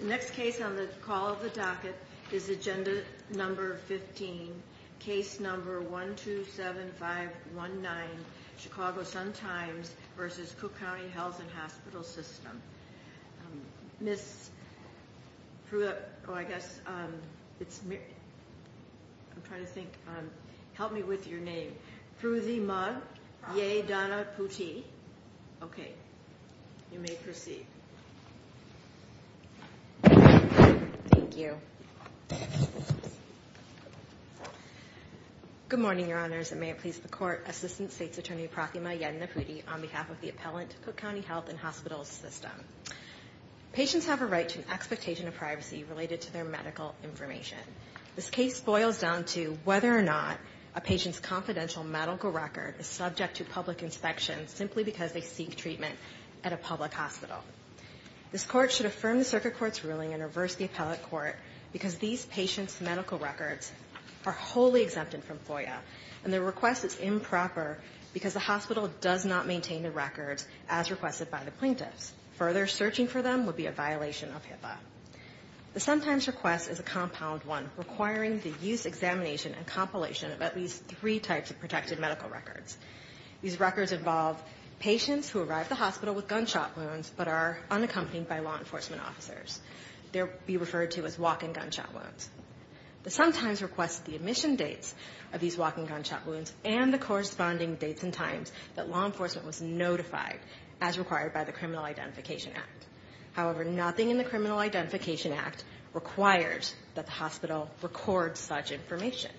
The next case on the call of the docket is Agenda No. 15, Case No. 127519, Chicago Sun-Times v. Cook County Health and Hospital System. Agenda Item No. 127519, Chicago Sun-Times v. Cook County Health and Hospital System Patients have a right to an expectation of privacy related to their medical information. This case boils down to whether or not a patient's confidential medical record is subject to public inspection simply because they seek treatment at a public hospital. This Court should affirm the Circuit Court's ruling and reverse the appellate court because these patients' medical records are wholly exempted from FOIA, and their request is improper because the hospital does not maintain the records as requested by the plaintiffs. Further searching for them would be a violation of HIPAA. The Sun-Times request is a compound one requiring the use, examination, and compilation of at least three types of protected medical records. These records involve patients who arrive at the hospital with gunshot wounds but are unaccompanied by law enforcement officers. They would be referred to as walk-in gunshot wounds. The Sun-Times requests the admission dates of these walk-in gunshot wounds and the corresponding dates and times that law enforcement was notified as required by the Criminal Identification Act. However, nothing in the Criminal Identification Act requires that the hospital record such information.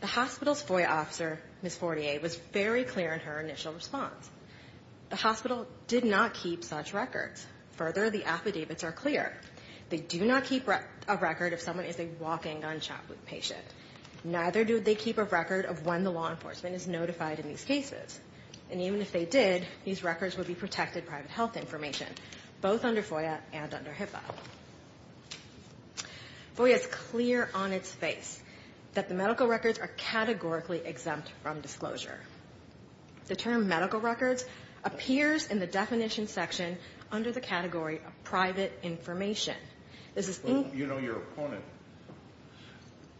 The hospital's FOIA officer, Ms. Fortier, was very clear in her initial response. The hospital did not keep such records. Further, the affidavits are clear. They do not keep a record if someone is a walk-in gunshot wound patient. Neither do they keep a record of when the law enforcement is notified in these cases. And even if they did, these records would be protected private health information, both under FOIA and under HIPAA. FOIA is clear on its face that the medical records are categorically exempt from disclosure. The term medical records appears in the definition section under the category of private information. You know your opponent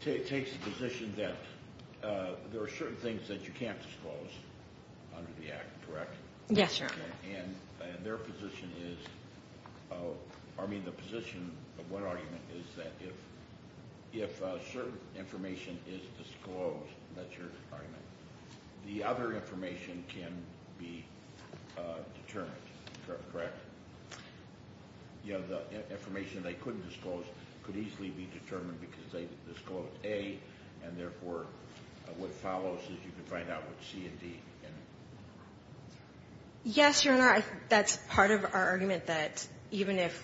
takes the position that there are certain things that you can't disclose under the act, correct? Yes, Your Honor. And their position is, I mean the position of what argument is that if certain information is disclosed, that's your argument. The other information can be determined, correct? You know, the information they couldn't disclose could easily be determined because they disclosed A, and therefore what follows is you can find out what C and D. Yes, Your Honor. That's part of our argument that even if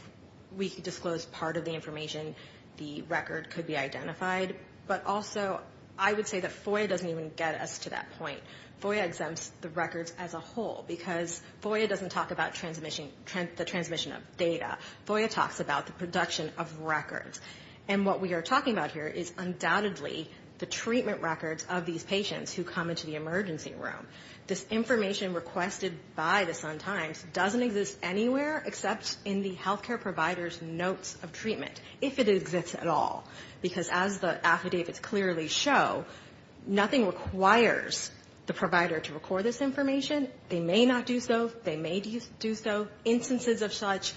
we could disclose part of the information, the record could be identified. But also, I would say that FOIA doesn't even get us to that point. FOIA exempts the records as a whole because FOIA doesn't talk about the transmission of data. FOIA talks about the production of records. And what we are talking about here is undoubtedly the treatment records of these patients who come into the emergency room. This information requested by the Sun-Times doesn't exist anywhere except in the healthcare provider's notes of treatment, if it exists at all, because as the affidavits clearly show, nothing requires the provider to record this information. They may not do so. They may do so. Instances of such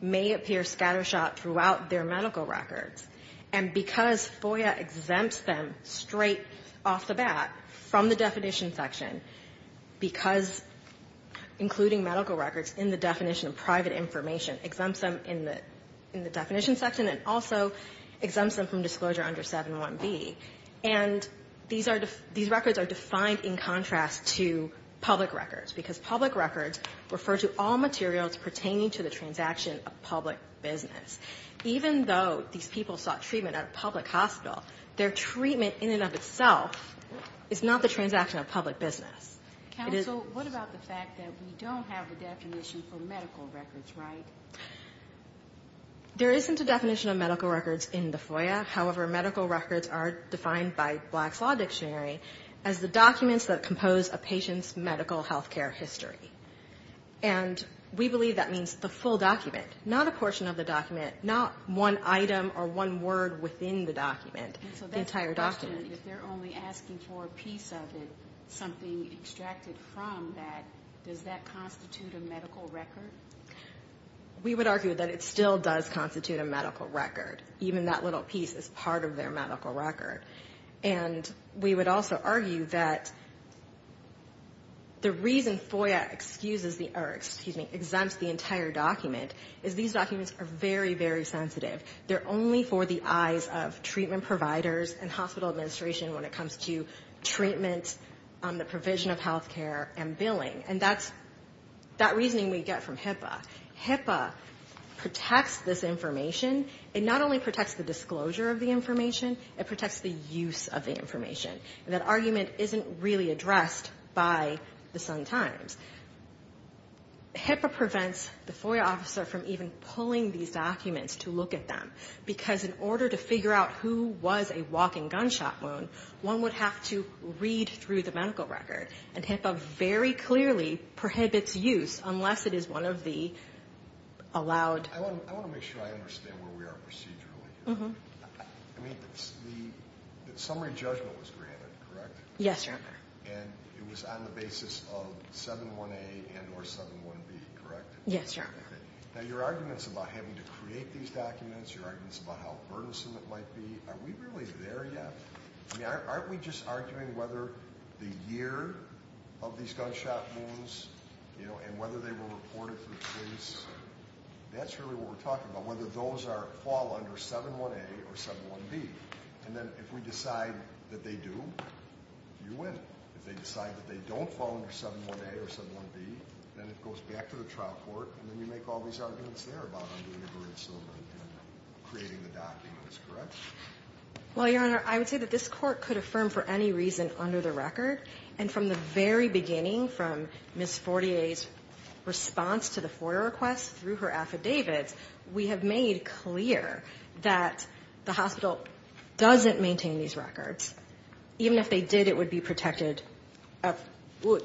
may appear scattershot throughout their medical records. And because FOIA exempts them straight off the bat from the definition section, because including medical records in the definition of private information exempts them in the definition section and also exempts them from disclosure under 7.1b. And these records are defined in contrast to public records, because public records refer to all materials pertaining to the transaction of public business. Even though these people sought treatment at a public hospital, their treatment in and of itself is not the transaction of public business. Counsel, what about the fact that we don't have a definition for medical records, right? There isn't a definition of medical records in the FOIA. However, medical records are defined by Black's Law Dictionary as the documents that compose a patient's medical healthcare history. And we believe that means the full document, not a portion of the document, not one item or one word within the document. The entire document. And so that's the question. If they're only asking for a piece of it, something extracted from that, does that constitute a medical record? We would argue that it still does constitute a medical record. Even that little piece is part of their medical record. And we would also argue that the reason FOIA exempts the entire document is these documents are very, very sensitive. They're only for the eyes of treatment providers and hospital administration when it comes to treatment, the provision of healthcare, and billing. And that's that reasoning we get from HIPAA. HIPAA protects this information. It not only protects the disclosure of the information, it protects the use of the information. And that argument isn't really addressed by the Sun-Times. HIPAA prevents the FOIA officer from even pulling these documents to look at them. Because in order to figure out who was a walking gunshot wound, one would have to read through the medical record. And HIPAA very clearly prohibits use unless it is one of the allowed. I want to make sure I understand where we are procedurally. I mean, the summary judgment was granted, correct? Yes, Your Honor. And it was on the basis of 7-1-A and or 7-1-B, correct? Yes, Your Honor. Now, your arguments about having to create these documents, your arguments about how burdensome it might be, are we really there yet? I mean, aren't we just arguing whether the year of these gunshot wounds and whether they were reported to the police? That's really what we're talking about, whether those fall under 7-1-A or 7-1-B. And then if we decide that they do, you win. If they decide that they don't fall under 7-1-A or 7-1-B, then it goes back to the trial court, and then you make all these arguments there about under-integrated syllabus and creating the documents, correct? Well, Your Honor, I would say that this Court could affirm for any reason under the record. And from the very beginning, from Ms. Fortier's response to the FOIA request through her affidavits, we have made clear that the hospital doesn't maintain these records. Even if they did, it would be protected of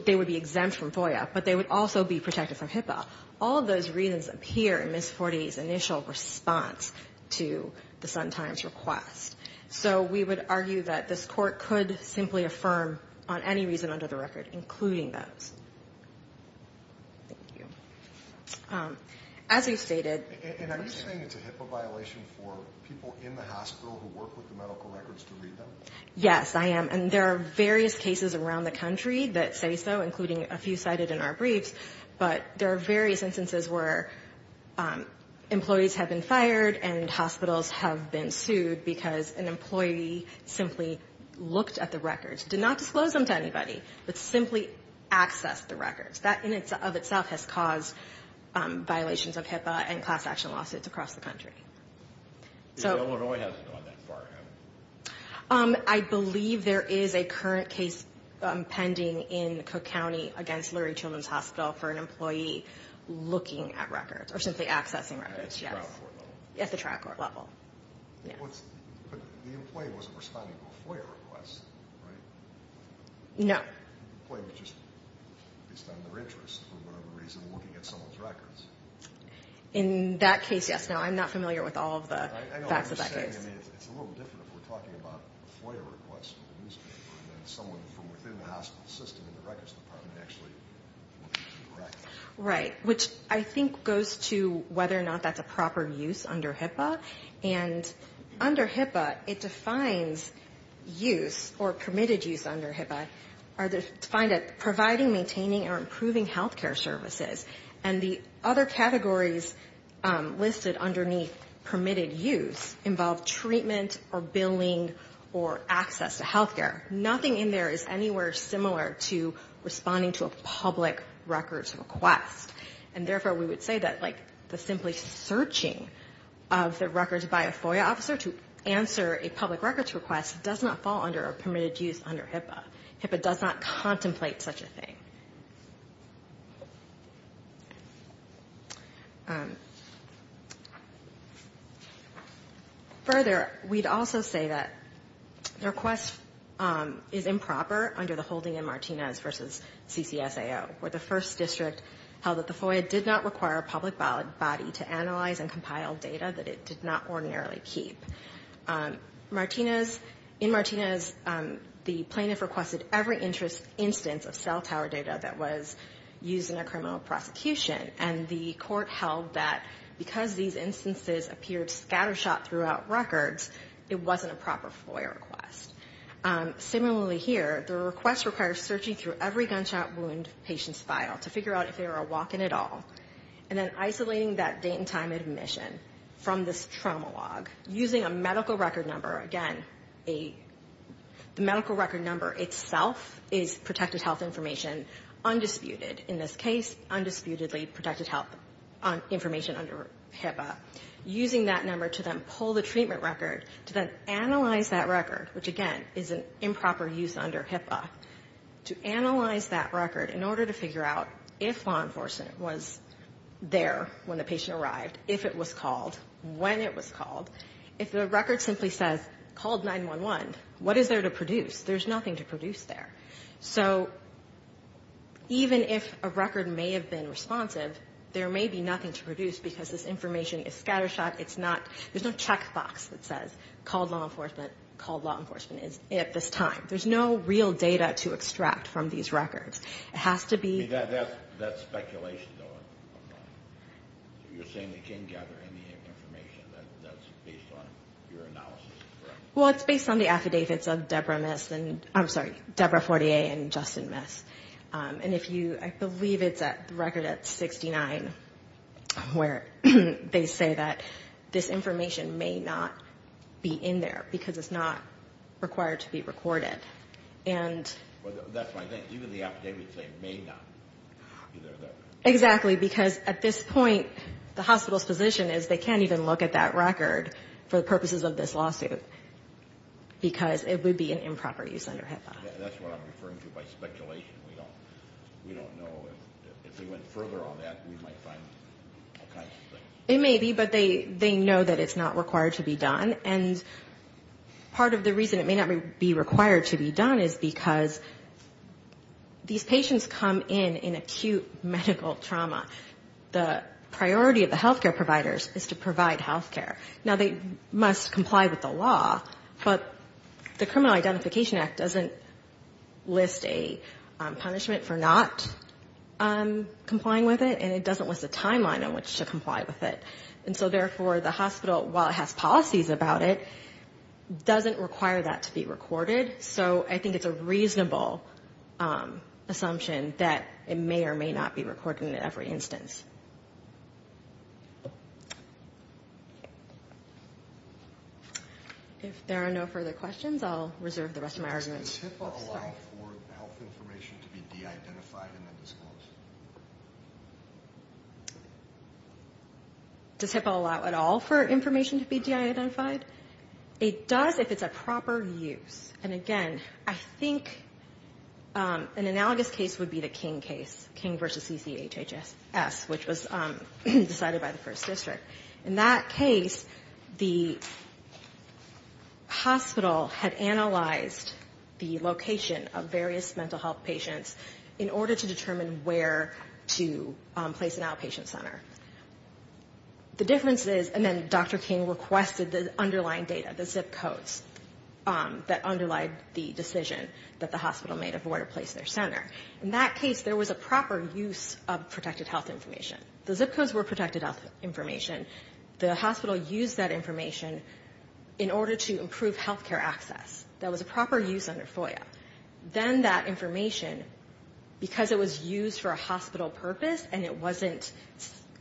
they would be exempt from FOIA, but they would also be protected from HIPAA. All of those reasons appear in Ms. Fortier's initial response to the Sun-Times request. So we would argue that this Court could simply affirm on any reason under the record, including those. Thank you. As we've stated— And are you saying it's a HIPAA violation for people in the hospital who work with the medical records to read them? Yes, I am. And there are various cases around the country that say so, including a few cited in our briefs. But there are various instances where employees have been fired and hospitals have been sued because an employee simply looked at the records, did not disclose them to anybody, but simply accessed the records. That in and of itself has caused violations of HIPAA and class action lawsuits across the country. Illinois hasn't gone that far, has it? I believe there is a current case pending in Cook County against Lurie Children's Hospital for an employee looking at records or simply accessing records, yes. At the trial court level? At the trial court level, yes. But the employee wasn't responding to a FOIA request, right? No. The employee was just, at least on their interest, for whatever reason, looking at someone's records. In that case, yes. Now, I'm not familiar with all of the facts of that case. I know what you're saying. I mean, it's a little different if we're talking about a FOIA request from the newspaper than someone from within the hospital system in the records department actually looking at the records. Right, which I think goes to whether or not that's a proper use under HIPAA. And under HIPAA, it defines use or permitted use under HIPAA are defined as providing, maintaining, or improving health care services. And the other categories listed underneath permitted use involve treatment or billing or access to health care. Nothing in there is anywhere similar to responding to a public records request. And therefore, we would say that, like, the simply searching of the records by a FOIA officer to answer a public records request does not fall under a permitted use under HIPAA. HIPAA does not contemplate such a thing. Further, we'd also say that the request is improper under the holding in Martinez versus CCSAO, where the first district held that the FOIA did not require a public body to analyze and compile data that it did not ordinarily keep. In Martinez, the plaintiff requested every instance of cell tower data that was used in a criminal prosecution, and the court held that because these instances appeared scattershot throughout records, it wasn't a proper FOIA request. Similarly here, the request requires searching through every gunshot wound patient's file to figure out if they were a walk-in at all, and then isolating that date and time of admission from this trauma log using a medical record number. Again, the medical record number itself is protected health information undisputed. In this case, undisputedly protected health information under HIPAA. Using that number to then pull the treatment record to then analyze that record, which, again, is an improper use under HIPAA. To analyze that record in order to figure out if law enforcement was there when the patient arrived, if it was called, when it was called. If the record simply says, called 911, what is there to produce? There's nothing to produce there. So even if a record may have been responsive, there may be nothing to produce because this information is scattershot. There's no checkbox that says called law enforcement, called law enforcement at this time. There's no real data to extract from these records. It has to be... Well, it's based on the affidavits of Debra Miss, I'm sorry, Debra Fortier and Justin Miss. And if you, I believe it's a record at 69 where they say that this information may not be in there because it's not required to be recorded. Well, that's my thing. Even the affidavits say it may not be there. Exactly, because at this point, the hospital's position is they can't even look at that record for the purposes of this lawsuit because it would be an improper use under HIPAA. That's what I'm referring to by speculation. We don't know. If they went further on that, we might find all kinds of things. It may be, but they know that it's not required to be done. And part of the reason it may not be required to be done is because these patients come in in acute medical trauma. The priority of the healthcare providers is to provide healthcare. Now, they must comply with the law, but the Criminal Identification Act doesn't list a punishment for not complying with it, and it doesn't list a timeline on which to comply with it. And so therefore, the hospital, while it has policies about it, doesn't require that to be recorded. So I think it's a reasonable assumption that it may or may not be recorded in every instance. If there are no further questions, I'll reserve the rest of my argument. Does HIPAA allow at all for information to be DI identified? It does if it's a proper use. And again, I think an analogous case would be the King case, King v. CCHHS, which was decided by the First District. In that case, the hospital had analyzed the location of various mental health patients in order to determine where to place an outpatient center. The difference is, and then Dr. King requested the underlying data, the zip codes that underlie the decision that the hospital made of where to place their center. In that case, there was a proper use of protected health information. The zip codes were protected health information. The hospital used that information in order to improve healthcare access. That was a proper use under FOIA. Then that information, because it was used for a hospital purpose and it wasn't,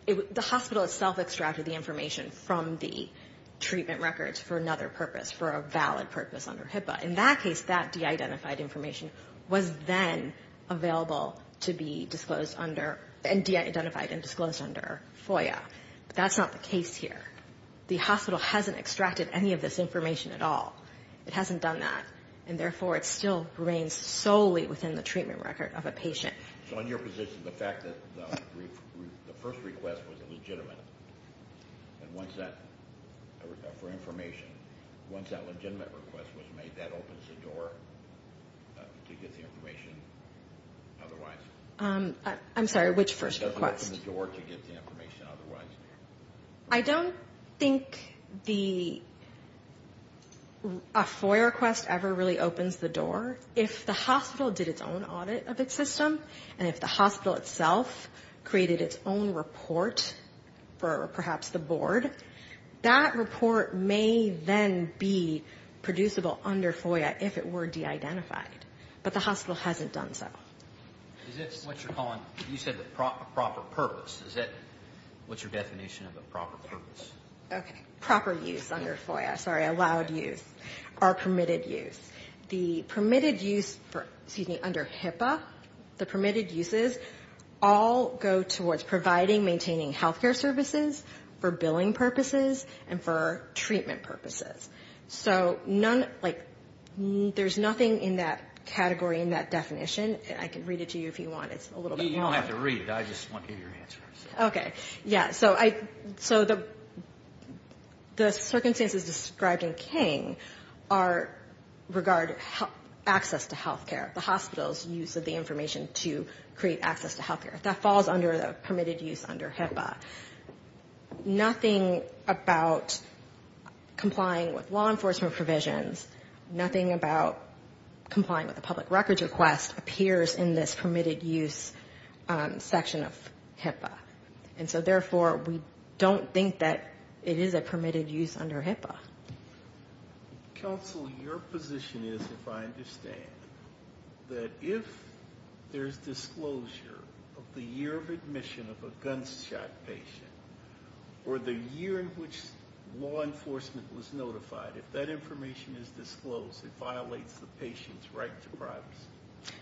the hospital itself extracted the information from the treatment records for another purpose, for a valid purpose under HIPAA. In that case, that DI identified information was then available to be disclosed under, and DI identified and disclosed under FOIA. But that's not the case here. The hospital hasn't extracted any of this information at all. It hasn't done that, and therefore it still remains solely within the treatment record of a patient. So in your position, the fact that the first request was legitimate, and once that, for information, once that legitimate request was made, that opens the door to get the information otherwise? I'm sorry, which first request? I don't think the, a FOIA request ever really opens the door. If the hospital did its own audit of its system, and if the hospital itself created its own report for perhaps the board, that report may then be producible under FOIA if it were DI identified. But the hospital hasn't done so. Is that what you're calling, you said the proper purpose, is that what's your definition of a proper purpose? Okay, proper use under FOIA, sorry, allowed use, or permitted use. The permitted use for, excuse me, under HIPAA, the permitted uses all go towards providing, maintaining health care services for billing purposes and for treatment purposes. So none, like, there's nothing in that category, in that definition, I can read it to you if you want, it's a little bit long. You don't have to read it, I just want to hear your answer. Okay, yeah, so the circumstances described in King are, regard access to health care, the hospital's use of the information to create access to health care. That falls under the permitted use under HIPAA. And again, with law enforcement provisions, nothing about complying with a public records request appears in this permitted use section of HIPAA. And so therefore, we don't think that it is a permitted use under HIPAA. Counsel, your position is, if I understand, that if there's disclosure of the year of admission of a gunshot patient, or the year in which law enforcement was notified, if that information is disclosed, it violates the patient's right to privacy?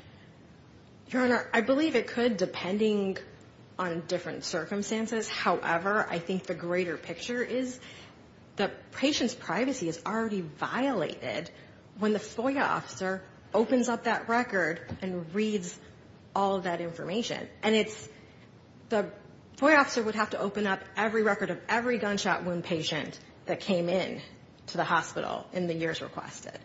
Your Honor, I believe it could, depending on different circumstances. However, I think the greater picture is the patient's privacy is already violated when the FOIA officer opens up that record and reads all of that information. And it's, the FOIA officer would have to open up every record of every gunshot wound patient that came in to the hospital. In the years requested.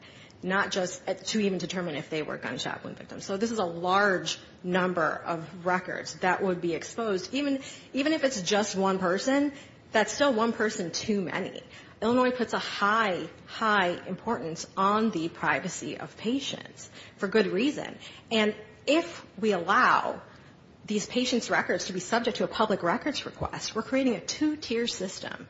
Not just to even determine if they were gunshot wound victims. So this is a large number of records that would be exposed, even if it's just one person, that's still one person too many. Illinois puts a high, high importance on the privacy of patients, for good reason. And if we allow these patients' records to be subject to a public records request, we're creating a two-tier system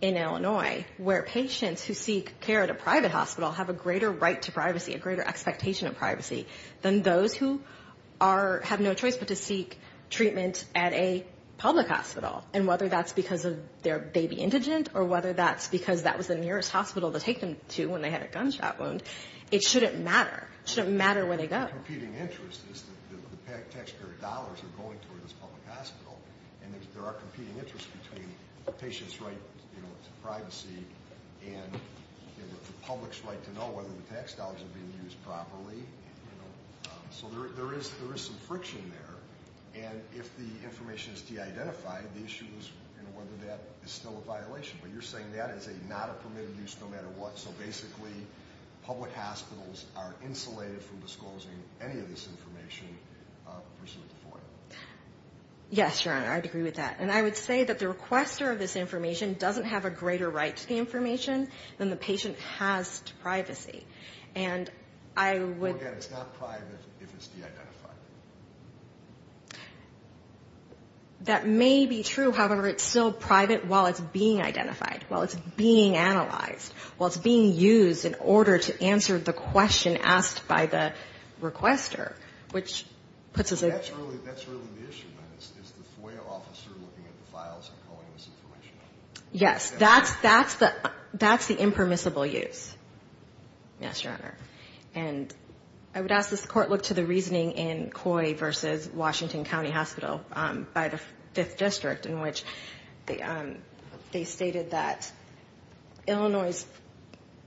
in Illinois, where patients who seek care at a private hospital have a greater right to privacy, a greater expectation of privacy, than those who are, have no choice but to seek treatment at a public hospital. And whether that's because they're baby indigent, or whether that's because that was the nearest hospital to take them to when they had a gunshot wound, it shouldn't matter. It shouldn't matter where they go. There are competing interests. The taxpayer dollars are going toward this public hospital. And there are competing interests between the patient's right to privacy and the public's right to know whether the tax dollars are being used properly. So there is some friction there. And if the information is de-identified, the issue is whether that is still a violation. But you're saying that is not a permitted use no matter what. So basically, public hospitals are insulated from disclosing any of this information pursuant to FOIA. Yes, Your Honor, I agree with that. And I would say that the requester of this information doesn't have a greater right to the information than the patient has to privacy. And I would... Well, again, it's not private if it's de-identified. That may be true. However, it's still private while it's being identified, while it's being analyzed, while it's being used in order to answer the question asked by the requester, which puts us in... That's really the issue, then, is the FOIA officer looking at the files and calling this information out? Yes. That's the impermissible use, yes, Your Honor. And I would ask this Court look to the reasoning in Coy v. Washington County Hospital by the Fifth District, in which they stated that Illinois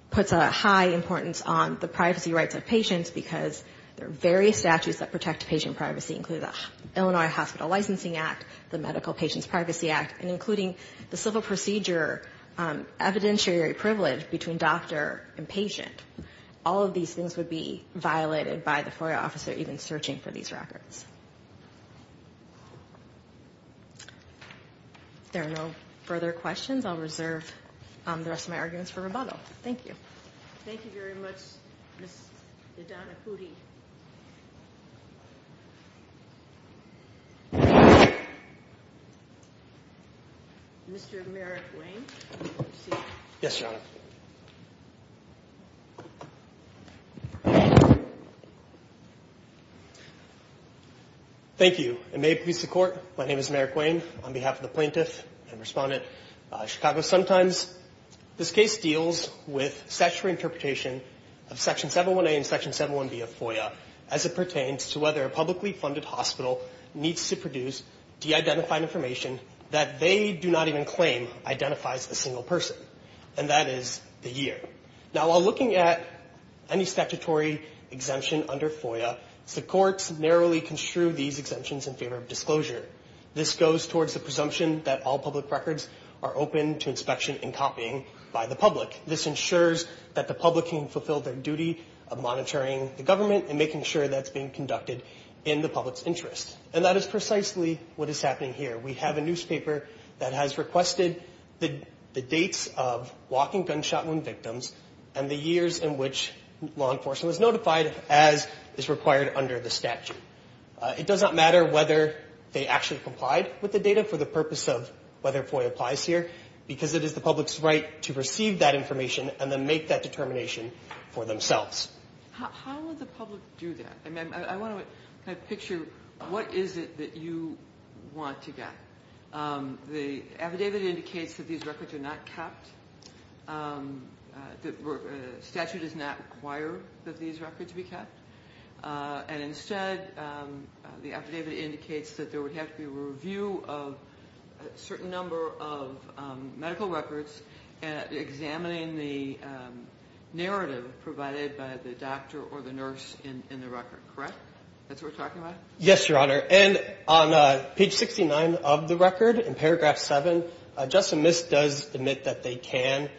puts a high importance on the privacy rights of patients, because there are various statutes that protect patient privacy, including the Illinois Hospital Licensing Act, the Medical Patients Privacy Act, and including the civil procedure evidentiary privilege between doctor and patient. All of these things would be violated by the FOIA officer even searching for these records. If there are no further questions, I'll reserve the rest of my arguments for rebuttal. Thank you. Thank you very much, Ms. Nidhana Pudi. Mr. Merrick Wayne? Thank you. May it please the Court, my name is Merrick Wayne. On behalf of the plaintiff and respondent, Chicago Sun Times, this case deals with statutory interpretation of Section 718 and Section 71b of FOIA as it pertains to whether a publicly funded hospital needs to produce de-identified information that they do not even claim identifies a single person, and that is the year. Now, while looking at any statutory exemption under FOIA, the courts narrowly construe these exemptions in favor of disclosure. This goes towards the presumption that all public records are open to inspection and copying by the public. This ensures that the public can fulfill their duty of monitoring the government and making sure that it's being conducted in the public's interest. And that is precisely what is happening here. We have a newspaper that has requested the dates of walking gunshot wound victims to be included in the statute, and the years in which law enforcement was notified as is required under the statute. It does not matter whether they actually complied with the data for the purpose of whether FOIA applies here, because it is the public's right to receive that information and then make that determination for themselves. How would the public do that? I mean, I want to kind of picture what is it that you want to get. The affidavit indicates that these records are not kept. The statute does not require that these records be kept. And instead, the affidavit indicates that there would have to be a review of a certain number of medical records examining the narrative provided by the doctor or the nurse in the record, correct? That's what we're talking about? Yes, Your Honor. And on page 69 of the record, in paragraph 7, Justin Mist does admit that they can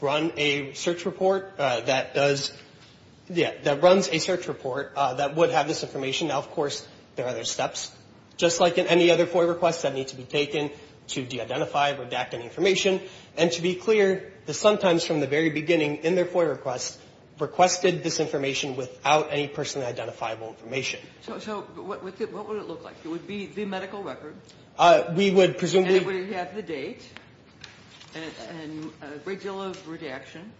run a search report that does, yeah, that runs a search report that would have this information. Now, of course, there are other steps, just like in any other FOIA request that need to be taken to de-identify or daction information. And to be clear, the sometimes from the very beginning in their FOIA request requested this information. So what would it look like? It would be the medical record. And it would have the date and a great deal of redaction.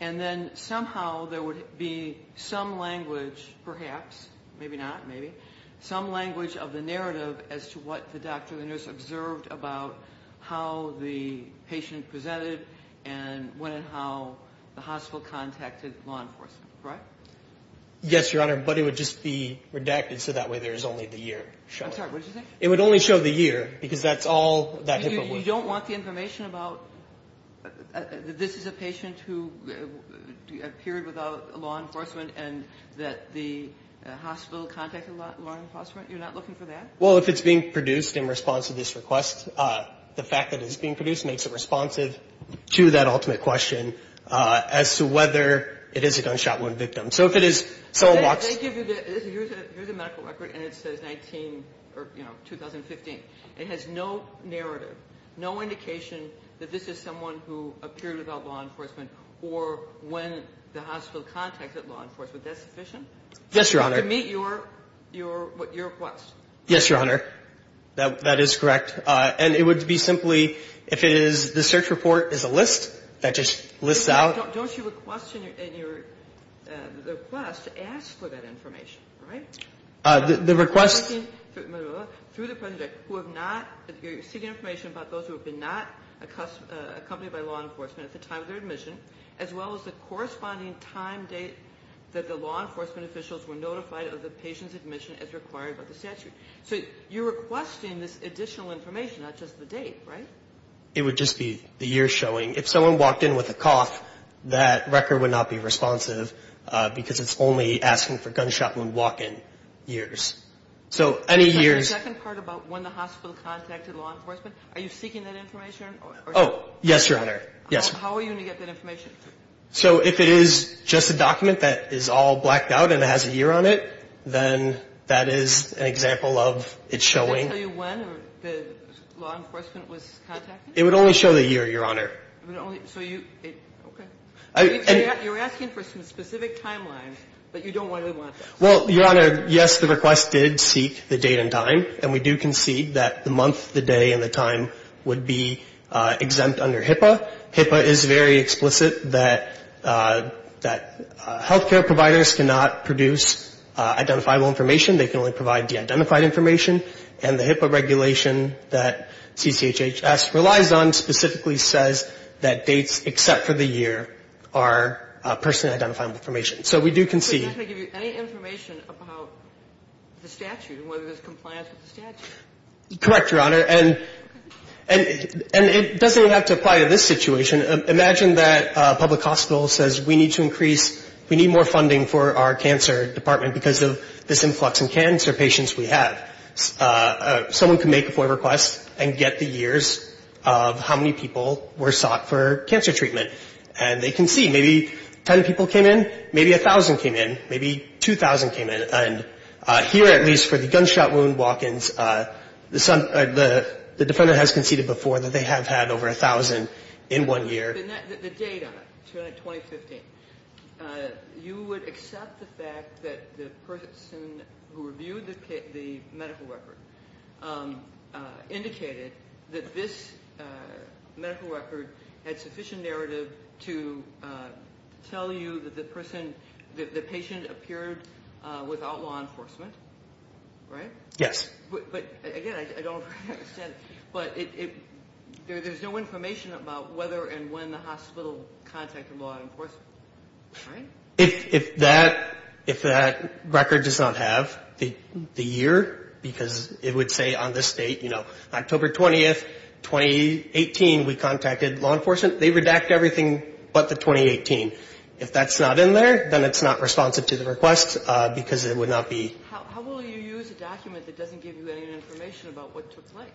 And then somehow there would be some language, perhaps, maybe not, maybe, some language of the narrative as to what the doctor or the nurse observed about how the patient presented and when and how the hospital contacted law enforcement. Yes, Your Honor. But it would just be redacted so that way there's only the year. I'm sorry, what did you say? It would only show the year, because that's all that HIPAA would show. You don't want the information about this is a patient who appeared without law enforcement and that the hospital contacted law enforcement? You're not looking for that? Well, if it's being produced in response to this request, the fact that it's being produced makes it responsive to that request. So if it is someone walks... They give you the medical record and it says 19, you know, 2015. It has no narrative, no indication that this is someone who appeared without law enforcement or when the hospital contacted law enforcement. That's sufficient? Yes, Your Honor. To meet your request? Yes, Your Honor. That is correct. And it would be simply, if it is, the search report is a list that just lists out... Don't you request in your, in your, in your request to ask for that information, right? The request... Through the present record, who have not... You're seeking information about those who have been not accompanied by law enforcement at the time of their admission, as well as the corresponding time date that the law enforcement officials were notified of the patient's admission as required by the statute. So you're requesting this additional information, not just the date, right? It would just be the year showing. If someone walked in with a cough, that record would not be responsive, because it's only asking for gunshot wound walk-in years. So any years... So the second part about when the hospital contacted law enforcement, are you seeking that information? Oh, yes, Your Honor. Yes. How are you going to get that information? So if it is just a document that is all blacked out and it has a year on it, then that is an example of it showing... Can it tell you when the law enforcement was notified? So you... Okay. You're asking for some specific timeline, but you don't really want that. Well, Your Honor, yes, the request did seek the date and time, and we do concede that the month, the day, and the time would be exempt under HIPAA. HIPAA is very explicit that, that health care providers cannot produce identifiable information. They can only provide de-identified information. And the HIPAA regulation that CCHHS relies on specifically says that dates except for the year are person-identifiable information. So we do concede... But it's not going to give you any information about the statute and whether there's compliance with the statute? Correct, Your Honor. And it doesn't have to apply to this situation. Imagine that a public hospital says, we need to increase, we need more funding for our cancer department because of this influx in cancer patients we have. Someone can make a FOIA request and get the years of how many people were sought for cancer treatment. And they concede. Maybe 10 people came in, maybe 1,000 came in, maybe 2,000 came in. And here, at least, for the gunshot wound walk-ins, the defendant has conceded before that they have had over 1,000 in one year. The data, 2015, you would accept the fact that the person who reviewed the medical records, the person who reviewed the medical record, indicated that this medical record had sufficient narrative to tell you that the person, the patient appeared without law enforcement, right? Yes. But again, I don't understand. But there's no information about whether and when the hospital contacted law enforcement, right? If that record does not have the year, because it would say on this date, you know, October 20th, 2018, we contacted law enforcement. They redact everything but the 2018. If that's not in there, then it's not responsive to the request because it would not be... How will you use a document that doesn't give you any information about what took place?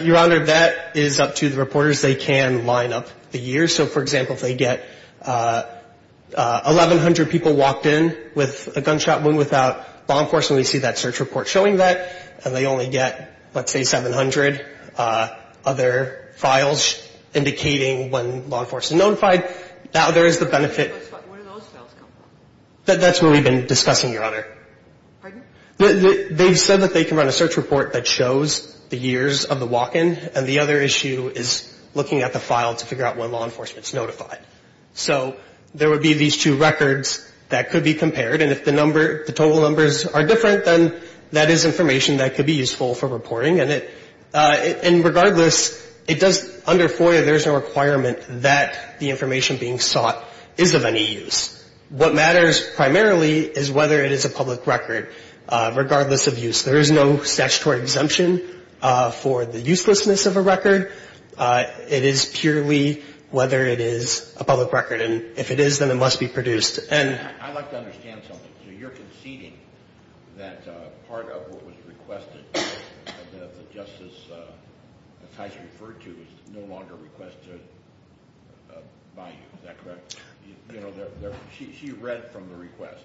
Your Honor, that is up to the reporters. They can line up the years. So, for example, if they get 1,100 people walked in with a gunshot wound without law enforcement, we see that search report showing that. And they only get, let's say, 700 other files indicating when law enforcement notified. Now, there is the benefit... Where do those files come from? That's where we've been discussing, Your Honor. Pardon? They've said that they can run a search report that shows the years of the walk-in. And the other issue is looking at the information that could be compared. And if the total numbers are different, then that is information that could be useful for reporting. And regardless, under FOIA, there's no requirement that the information being sought is of any use. What matters primarily is whether it is a public record, regardless of use. There is no statutory exemption for the uselessness of a record. It is purely whether it is a public record. And if it is, then it must be produced. I'd like to understand something. So you're conceding that part of what was requested that the justice, as Tyson referred to, is no longer requested by you. Is that correct? You know, she read from the request.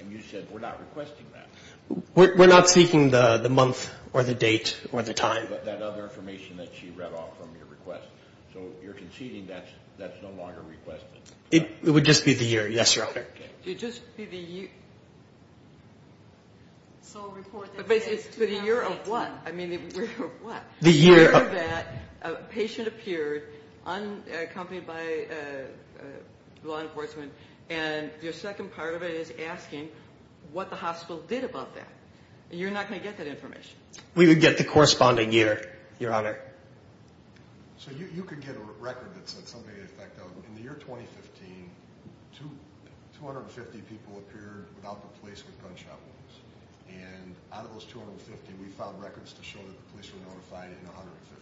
And you said, we're not requesting that. We're not seeking the month or the date or the time. But that other information that she read off from your request. So you're conceding that's no longer requested? It would just be the year. Yes, Your Honor. It would just be the year. So report the date. But the year of what? I mean, the year of what? The year that a patient appeared, accompanied by law enforcement, and your second part of it is asking what the hospital did about that. And you're not going to get that information. We would get the corresponding year, Your Honor. So you could get a record that said something to that effect. In the year 2015, 250 people appeared without the police with gunshot wounds. And out of those 250, we found records to show that the police were notified in 150.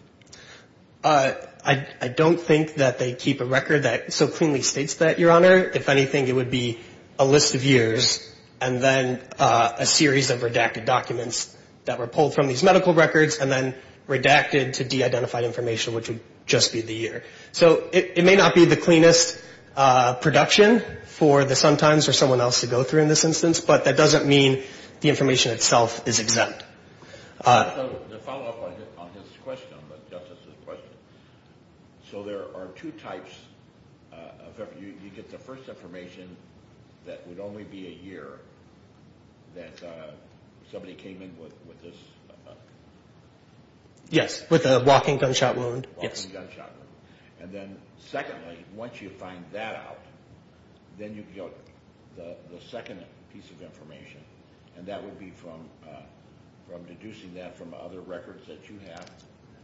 I don't think that they keep a record that so cleanly states that, Your Honor. If anything, it would be a list of years, and then a series of redacted documents that were pulled from these medical records, and then redacted to detail. And then the identified information, which would just be the year. So it may not be the cleanest production for the Sun-Times or someone else to go through in this instance, but that doesn't mean the information itself is exempt. The follow-up on his question, on the Justice's question. So there are two types. You get the first information that would only be a year that somebody came in with this. Yes. With a walking gunshot wound. Yes. Walking gunshot wound. And then secondly, once you find that out, then you get the second piece of information, and that would be from deducing that from other records that you have?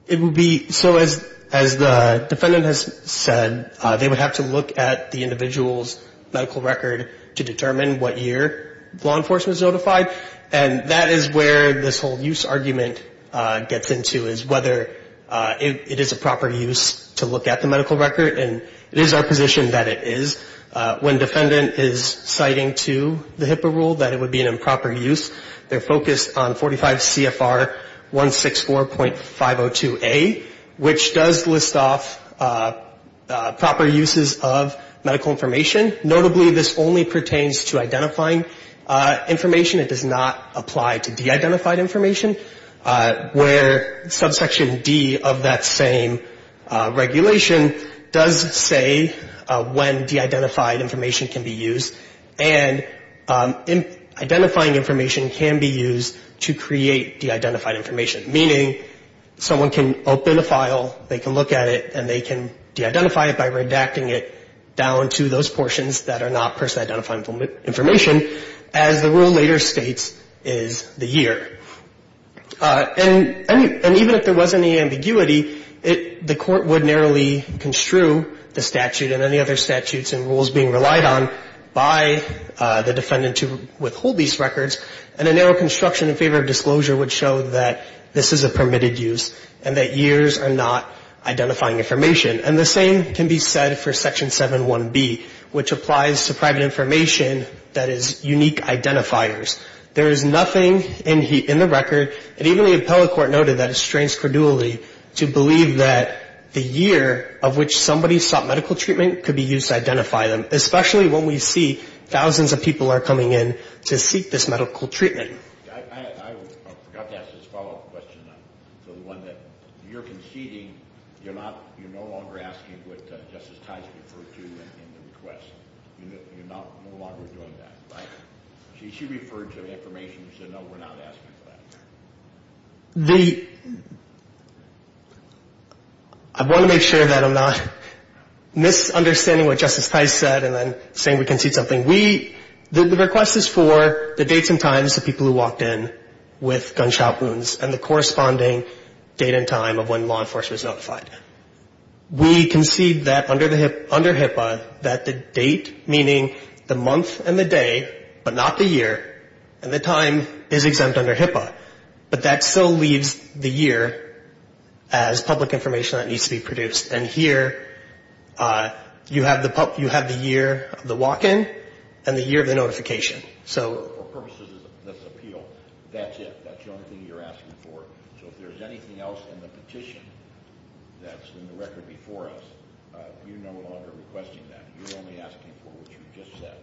It would be, so as the defendant has said, they would have to look at the individual's medical record to determine what year law enforcement was notified. And that is where this whole use argument gets into, is whether it is a proper use to look at the medical record. And it is our position that it is. When defendant is citing to the HIPAA rule that it would be an improper use, they're focused on 45 CFR 164.502A, which does list off proper uses of medical information. Notably, this only pertains to identifying information. It does not apply to de-identified information, where subsection D of that same regulation does say when de-identified information can be used. And identifying information can be used to create de-identified information, meaning someone can open a file, they can look at it, and they can de-identify it by redacting it down to those portions that are not person-identified information. As the rule later states, is the year. And even if there was any ambiguity, the court would narrowly construe the statute and any other statutes and rules being relied on by the defendant to withhold these records. And a narrow construction in favor of disclosure would show that this is a permitted use and that years are not identifying information. And the same can be said for Section 7.1b, which applies to private information that is not person-identified. And the same can be said for Section 8.1c, which applies to the state's unique identifiers. There is nothing in the record, and even the appellate court noted that it strains credulity to believe that the year of which somebody sought medical treatment could be used to identify them, especially when we see thousands of people are coming in to seek this medical treatment. I forgot to ask this follow-up question. So the one that you're conceding, you're no longer asking what Justice Tice referred to in the request. You're no longer doing that. She referred to information. She said, no, we're not asking for that. I want to make sure that I'm not misunderstanding what Justice Tice said and then saying we concede something. The request is for the dates and times of people who walked in with gunshot wounds and the corresponding date and time of when law enforcement is notified. We concede that under HIPAA, that the date, meaning the month and the day, but not the year, and the time is exempt under HIPAA. But that still leaves the year as public information that needs to be produced. And here, you have the year of the walk-in and the year of the notification. So for purposes of this appeal, that's it. That's the only thing you're asking for. So if there's anything else in the petition that's in the record before us, you're no longer asking for what you just said.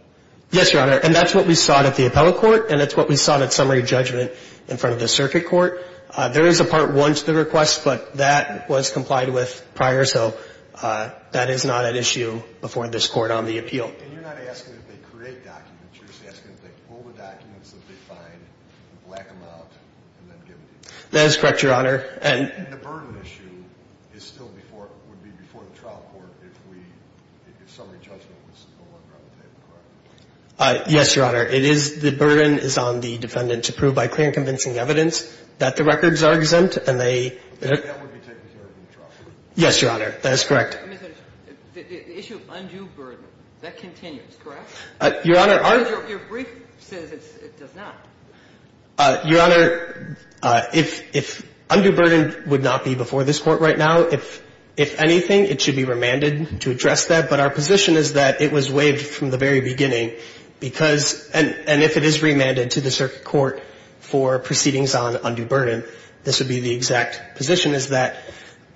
Yes, Your Honor. And that's what we sought at the appellate court, and that's what we sought at summary judgment in front of the circuit court. There is a Part 1 to the request, but that was complied with prior, so that is not an issue before this court on the appeal. And you're not asking if they create documents. You're just asking if they pull the documents that they find, black them out, and then give them to you. That is correct, Your Honor. And the burden issue is still before, would be before the trial court if we, if summary judgment was no longer on the table, correct? Yes, Your Honor. It is, the burden is on the defendant to prove by clear and convincing evidence that the records are exempt, and they That would be taken care of in the trial court. Yes, Your Honor. That is correct. The issue of undue burden, that continues, correct? Your Honor, if undue burden would not be before this court right now, if anything, it should be remanded to address that, but our position is that it was waived from the very beginning, because, and if it is remanded to the circuit court for proceedings on undue burden, this would be the exact position, is that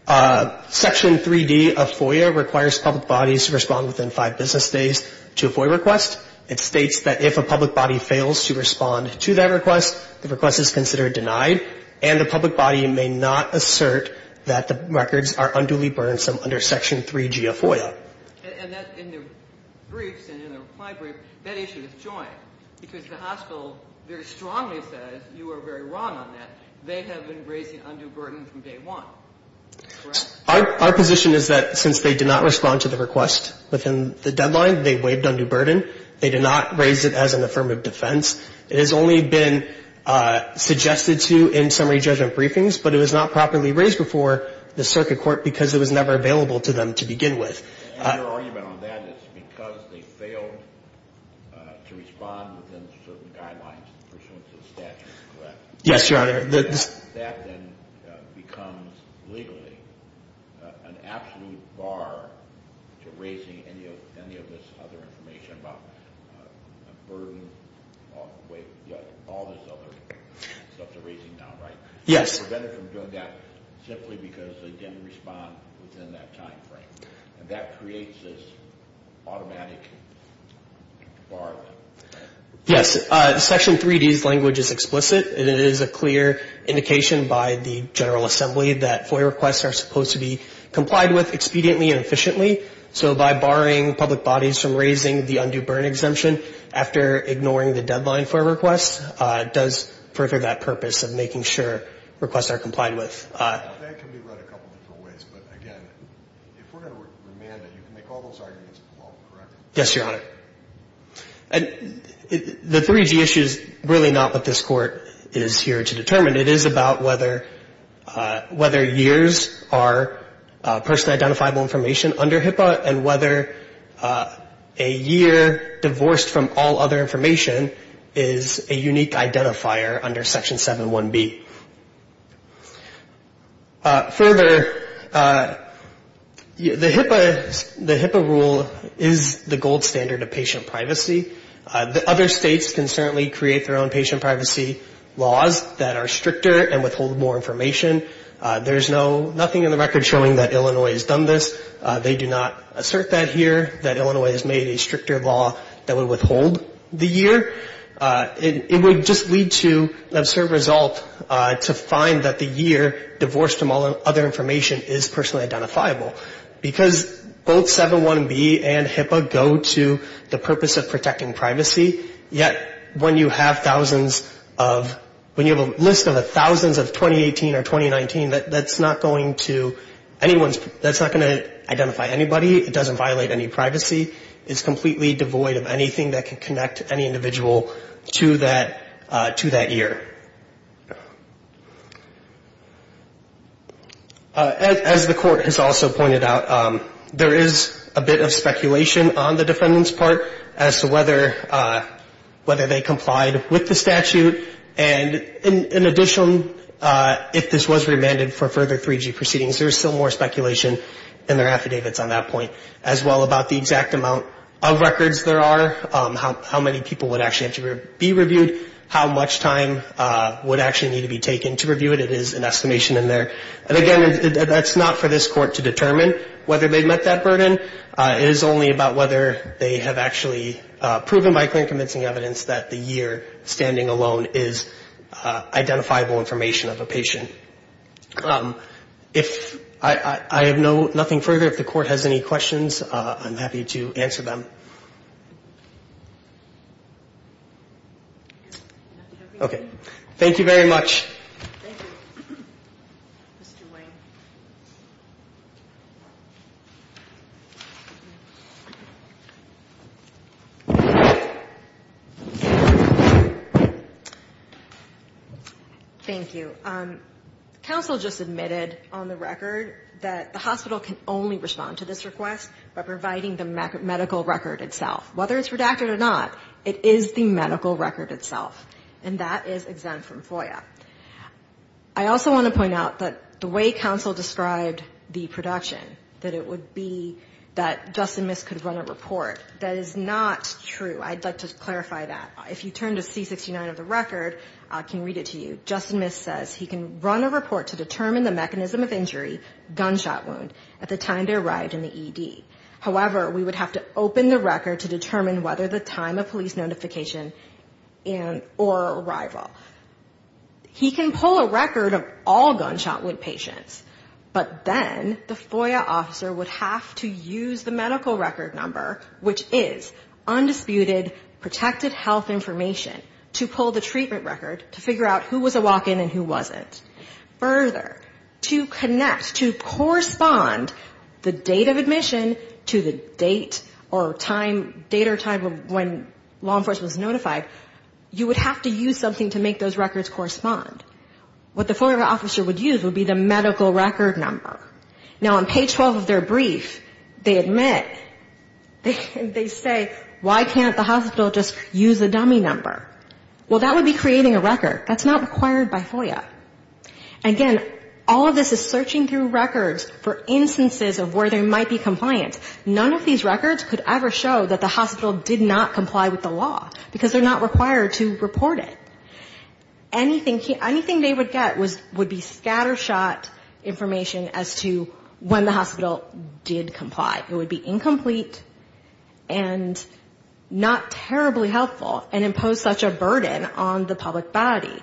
Section 3D of Section 3B of the Circuit Court of Appeals would be removed. Section 3G of FOIA requires public bodies to respond within five business days to a FOIA request. It states that if a public body fails to respond to that request, the request is considered denied, and the public body may not assert that the records are unduly burdensome under Section 3G of FOIA. And that, in the briefs and in the reply brief, that issue is joined, because the hospital very strongly says you are very wrong on that. They have been raising undue burden from day one, correct? Our position is that since they did not respond to the request within the deadline, they waived undue burden. They did not raise it as an affirmative defense. It has only been suggested to in summary judgment briefings, but it was not properly raised before the circuit court because it was never available to them to begin with. And your argument on that is because they failed to respond within certain guidelines and pursuances of statute, correct? Yes, Your Honor. That then becomes legally an absolute bar to raising any of this other information about burden, all this other stuff they're raising now, right? Yes. You prevented them from doing that simply because they didn't respond within that timeframe. And that creates this automatic bar. Yes, Section 3D's language is explicit. It is a clear indication by the General Assembly that FOIA requests are supposed to be complied with expediently and efficiently. So by barring public bodies from raising the undue burden exemption after ignoring the deadline for a request, it does further that purpose of making sure requests are complied with. That can be read a couple different ways, but again, if we're going to remand it, you can make all those arguments involved, correct? Yes, Your Honor. The 3D issue is really not what this Court is here to determine. It is about whether years are personally identifiable information under HIPAA and whether a year divorced from all other information is a unique identifier under Section 7.1b. Further, the HIPAA rule is the gold standard of patient privacy. Other states can certainly create their own patient privacy laws that are stricter and withhold more information. There's nothing in the record showing that Illinois has done this. They do not assert that here, that Illinois has made a stricter law that would withhold the year. It would just lead to an absurd result to find that the year divorced from all other information is personally identifiable. Because both 7.1b and HIPAA go to the purpose of protecting privacy, yet when you have thousands of, when you have a list of thousands of 2018 or 2019, that's not going to anyone's, that's not going to identify anybody. It doesn't violate any privacy. It's completely devoid of anything that can connect any individual to that year. As the Court has also pointed out, there is a bit of speculation on the defendant's part as to whether they complied with the statute. And in addition, if this was remanded for further 3G proceedings, there's still more speculation in their affidavits on that point. As well about the exact amount of records there are, how many people would actually have to be reviewed, how much time would actually need to be taken to review it. It is an estimation in there. And again, that's not for this Court to determine whether they met that burden. It is only about whether they have actually proven by clear and convincing evidence that the year standing alone is identifiable information of a patient. If I have no, nothing further, if the Court has any questions, I'm happy to answer them. Okay. Thank you very much. Thank you, Mr. Wayne. Thank you. Counsel just admitted on the record that the hospital can only respond to this request by providing the medical record itself. Whether it's redacted or not, it is the medical record itself. And that is exempt from FOIA. I also want to point out that the way counsel described the production, that it would be that Justin Miss could run a report, that is not true. I'd like to clarify that. If you turn to C-69 of the record, I can read it to you. Justin Miss says he can run a report to determine the mechanism of injury, gunshot wound, at the time they arrived in the ED. However, we would have to open the record to determine whether the time of police notification and or arrival. He can pull a record of all gunshot wound patients, but then the FOIA officer would have to use the medical record number, which is undisputed protected health information, to pull the treatment record to figure out who was a while ago and who was not. Further, to connect, to correspond the date of admission to the date or time, date or time when law enforcement was notified, you would have to use something to make those records correspond. What the FOIA officer would use would be the medical record number. Now, on page 12 of their brief, they admit, they say, why can't the hospital just use a dummy number? Well, that would be creating a record. That's not required by FOIA. Again, all of this is searching through records for instances of where they might be compliant. None of these records could ever show that the hospital did not comply with the law, because they're not required to report it. Anything they would get would be scattershot information as to when the hospital did comply. It would be incomplete and not terribly helpful and impose such a burden on the public body.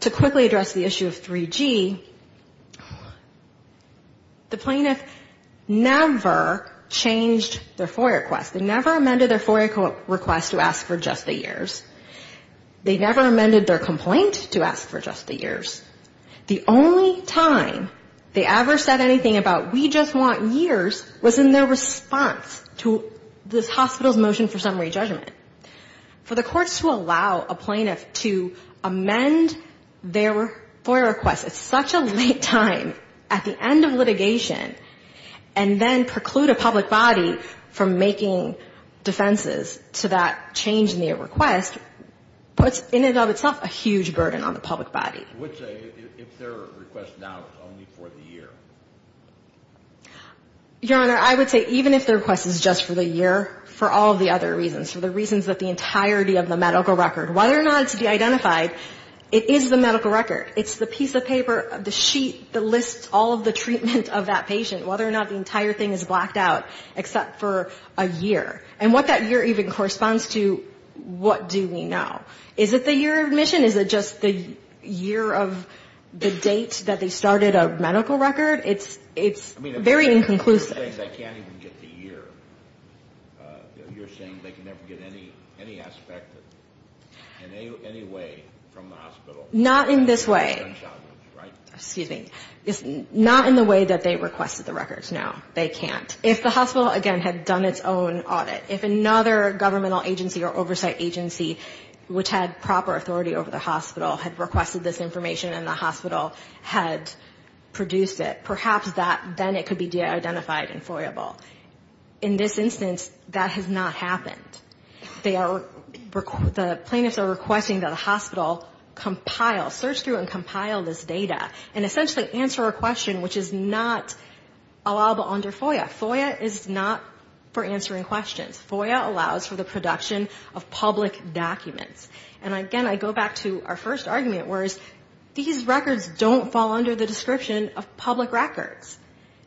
To quickly address the issue of 3G, the plaintiff never changed their FOIA request. They never amended their FOIA request to ask for just the years. They never amended their complaint to ask for just the years. The only time they ever said anything about we just want years was in their response to this hospital's motion for summary judgment. For the courts to allow a plaintiff to amend their FOIA request at such a late time, at the end of litigation, and then preclude a public body from making defenses to that change in their request, puts in and of itself a huge burden on the public body. I would say if their request now is only for the year. Your Honor, I would say even if their request is just for the year, for all the other reasons, for the reasons that the entirety of the medical record, whether or not it's to be identified, it is the medical record. It's the piece of paper, the sheet that lists all of the treatment of that patient, whether or not the entire thing is blacked out, except for a year. And what that year even corresponds to, what do we know? Is it the year of admission? Is it just the year of the date that they started a medical record? It's very inconclusive. You're saying they can never get any aspect in any way from the hospital? Not in this way. Excuse me. Not in the way that they requested the records, no. They can't. If the hospital, again, had done its own audit, if another governmental agency or oversight agency which had proper authority over the hospital had requested this information and the hospital had produced it, perhaps that then it could be de-identified and FOIA-able. In this instance, that has not happened. They are, the plaintiffs are requesting that the hospital compile, search through and compile this data and essentially answer a question which is not allowable under FOIA. FOIA is not for answering questions. FOIA allows for the production of public documents. And again, I go back to our first argument was these records don't fall under the description of public records.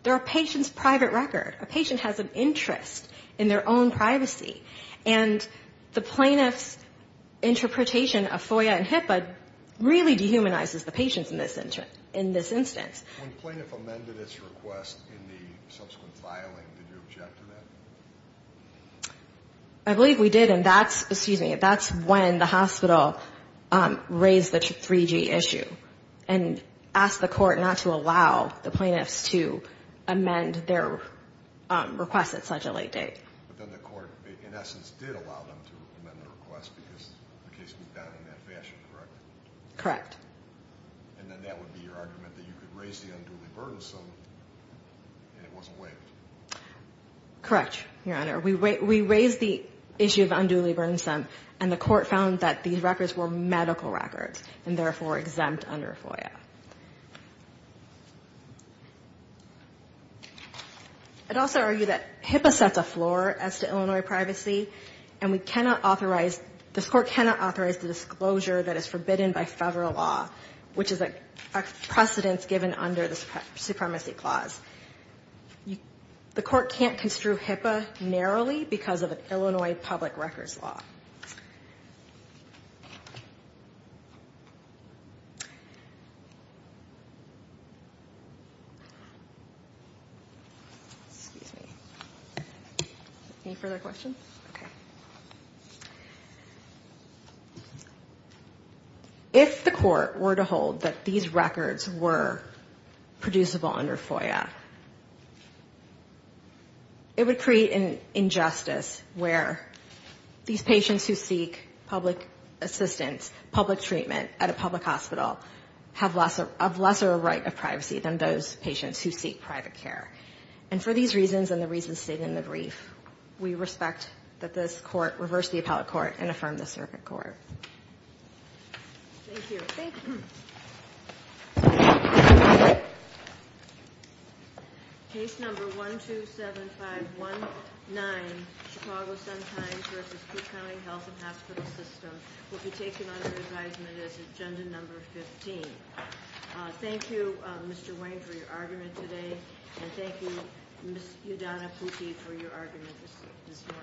They're a patient's private record. A patient has an interest in their own privacy. And the plaintiff's interpretation of FOIA and HIPAA really dehumanizes the patient in this instance. If the plaintiff amended its request in the subsequent filing, did you object to that? I believe we did. And that's, excuse me, that's when the hospital raised the 3G issue and asked the court not to allow the plaintiffs to amend their request at such a late date. But then the court, in essence, did allow them to amend the request because the case was done in that fashion, correct? And then that would be your argument, that you could raise the unduly burdensome and it wasn't waived? Correct, Your Honor. We raised the issue of unduly burdensome and the court found that these records were medical records and therefore exempt under FOIA. I'd also argue that HIPAA sets a floor as to Illinois privacy and we cannot authorize, this court cannot authorize the disclosure that is forbidden by federal law, which is a precedence given under the supremacy clause. The court can't construe HIPAA narrowly because of an Illinois public records law. Excuse me. Any further questions? Okay. If the court were to hold that these records were producible under FOIA, it would create an injustice where these patients who seek public assistance, public treatment at a public hospital have less, have lesser right of privacy than those patients who seek private care. And for these reasons and the reasons stated in the brief, we respect that this court reversed the appellate court and affirmed the circuit court. Thank you. Thank you. Case number 127519, Chicago Sun-Times v. Cook County Health and Hospital System will be taken under advisement as agenda number 15. Thank you, Mr. Wayne, for your argument today and thank you, Ms. Udonna Pucci, for your argument this morning.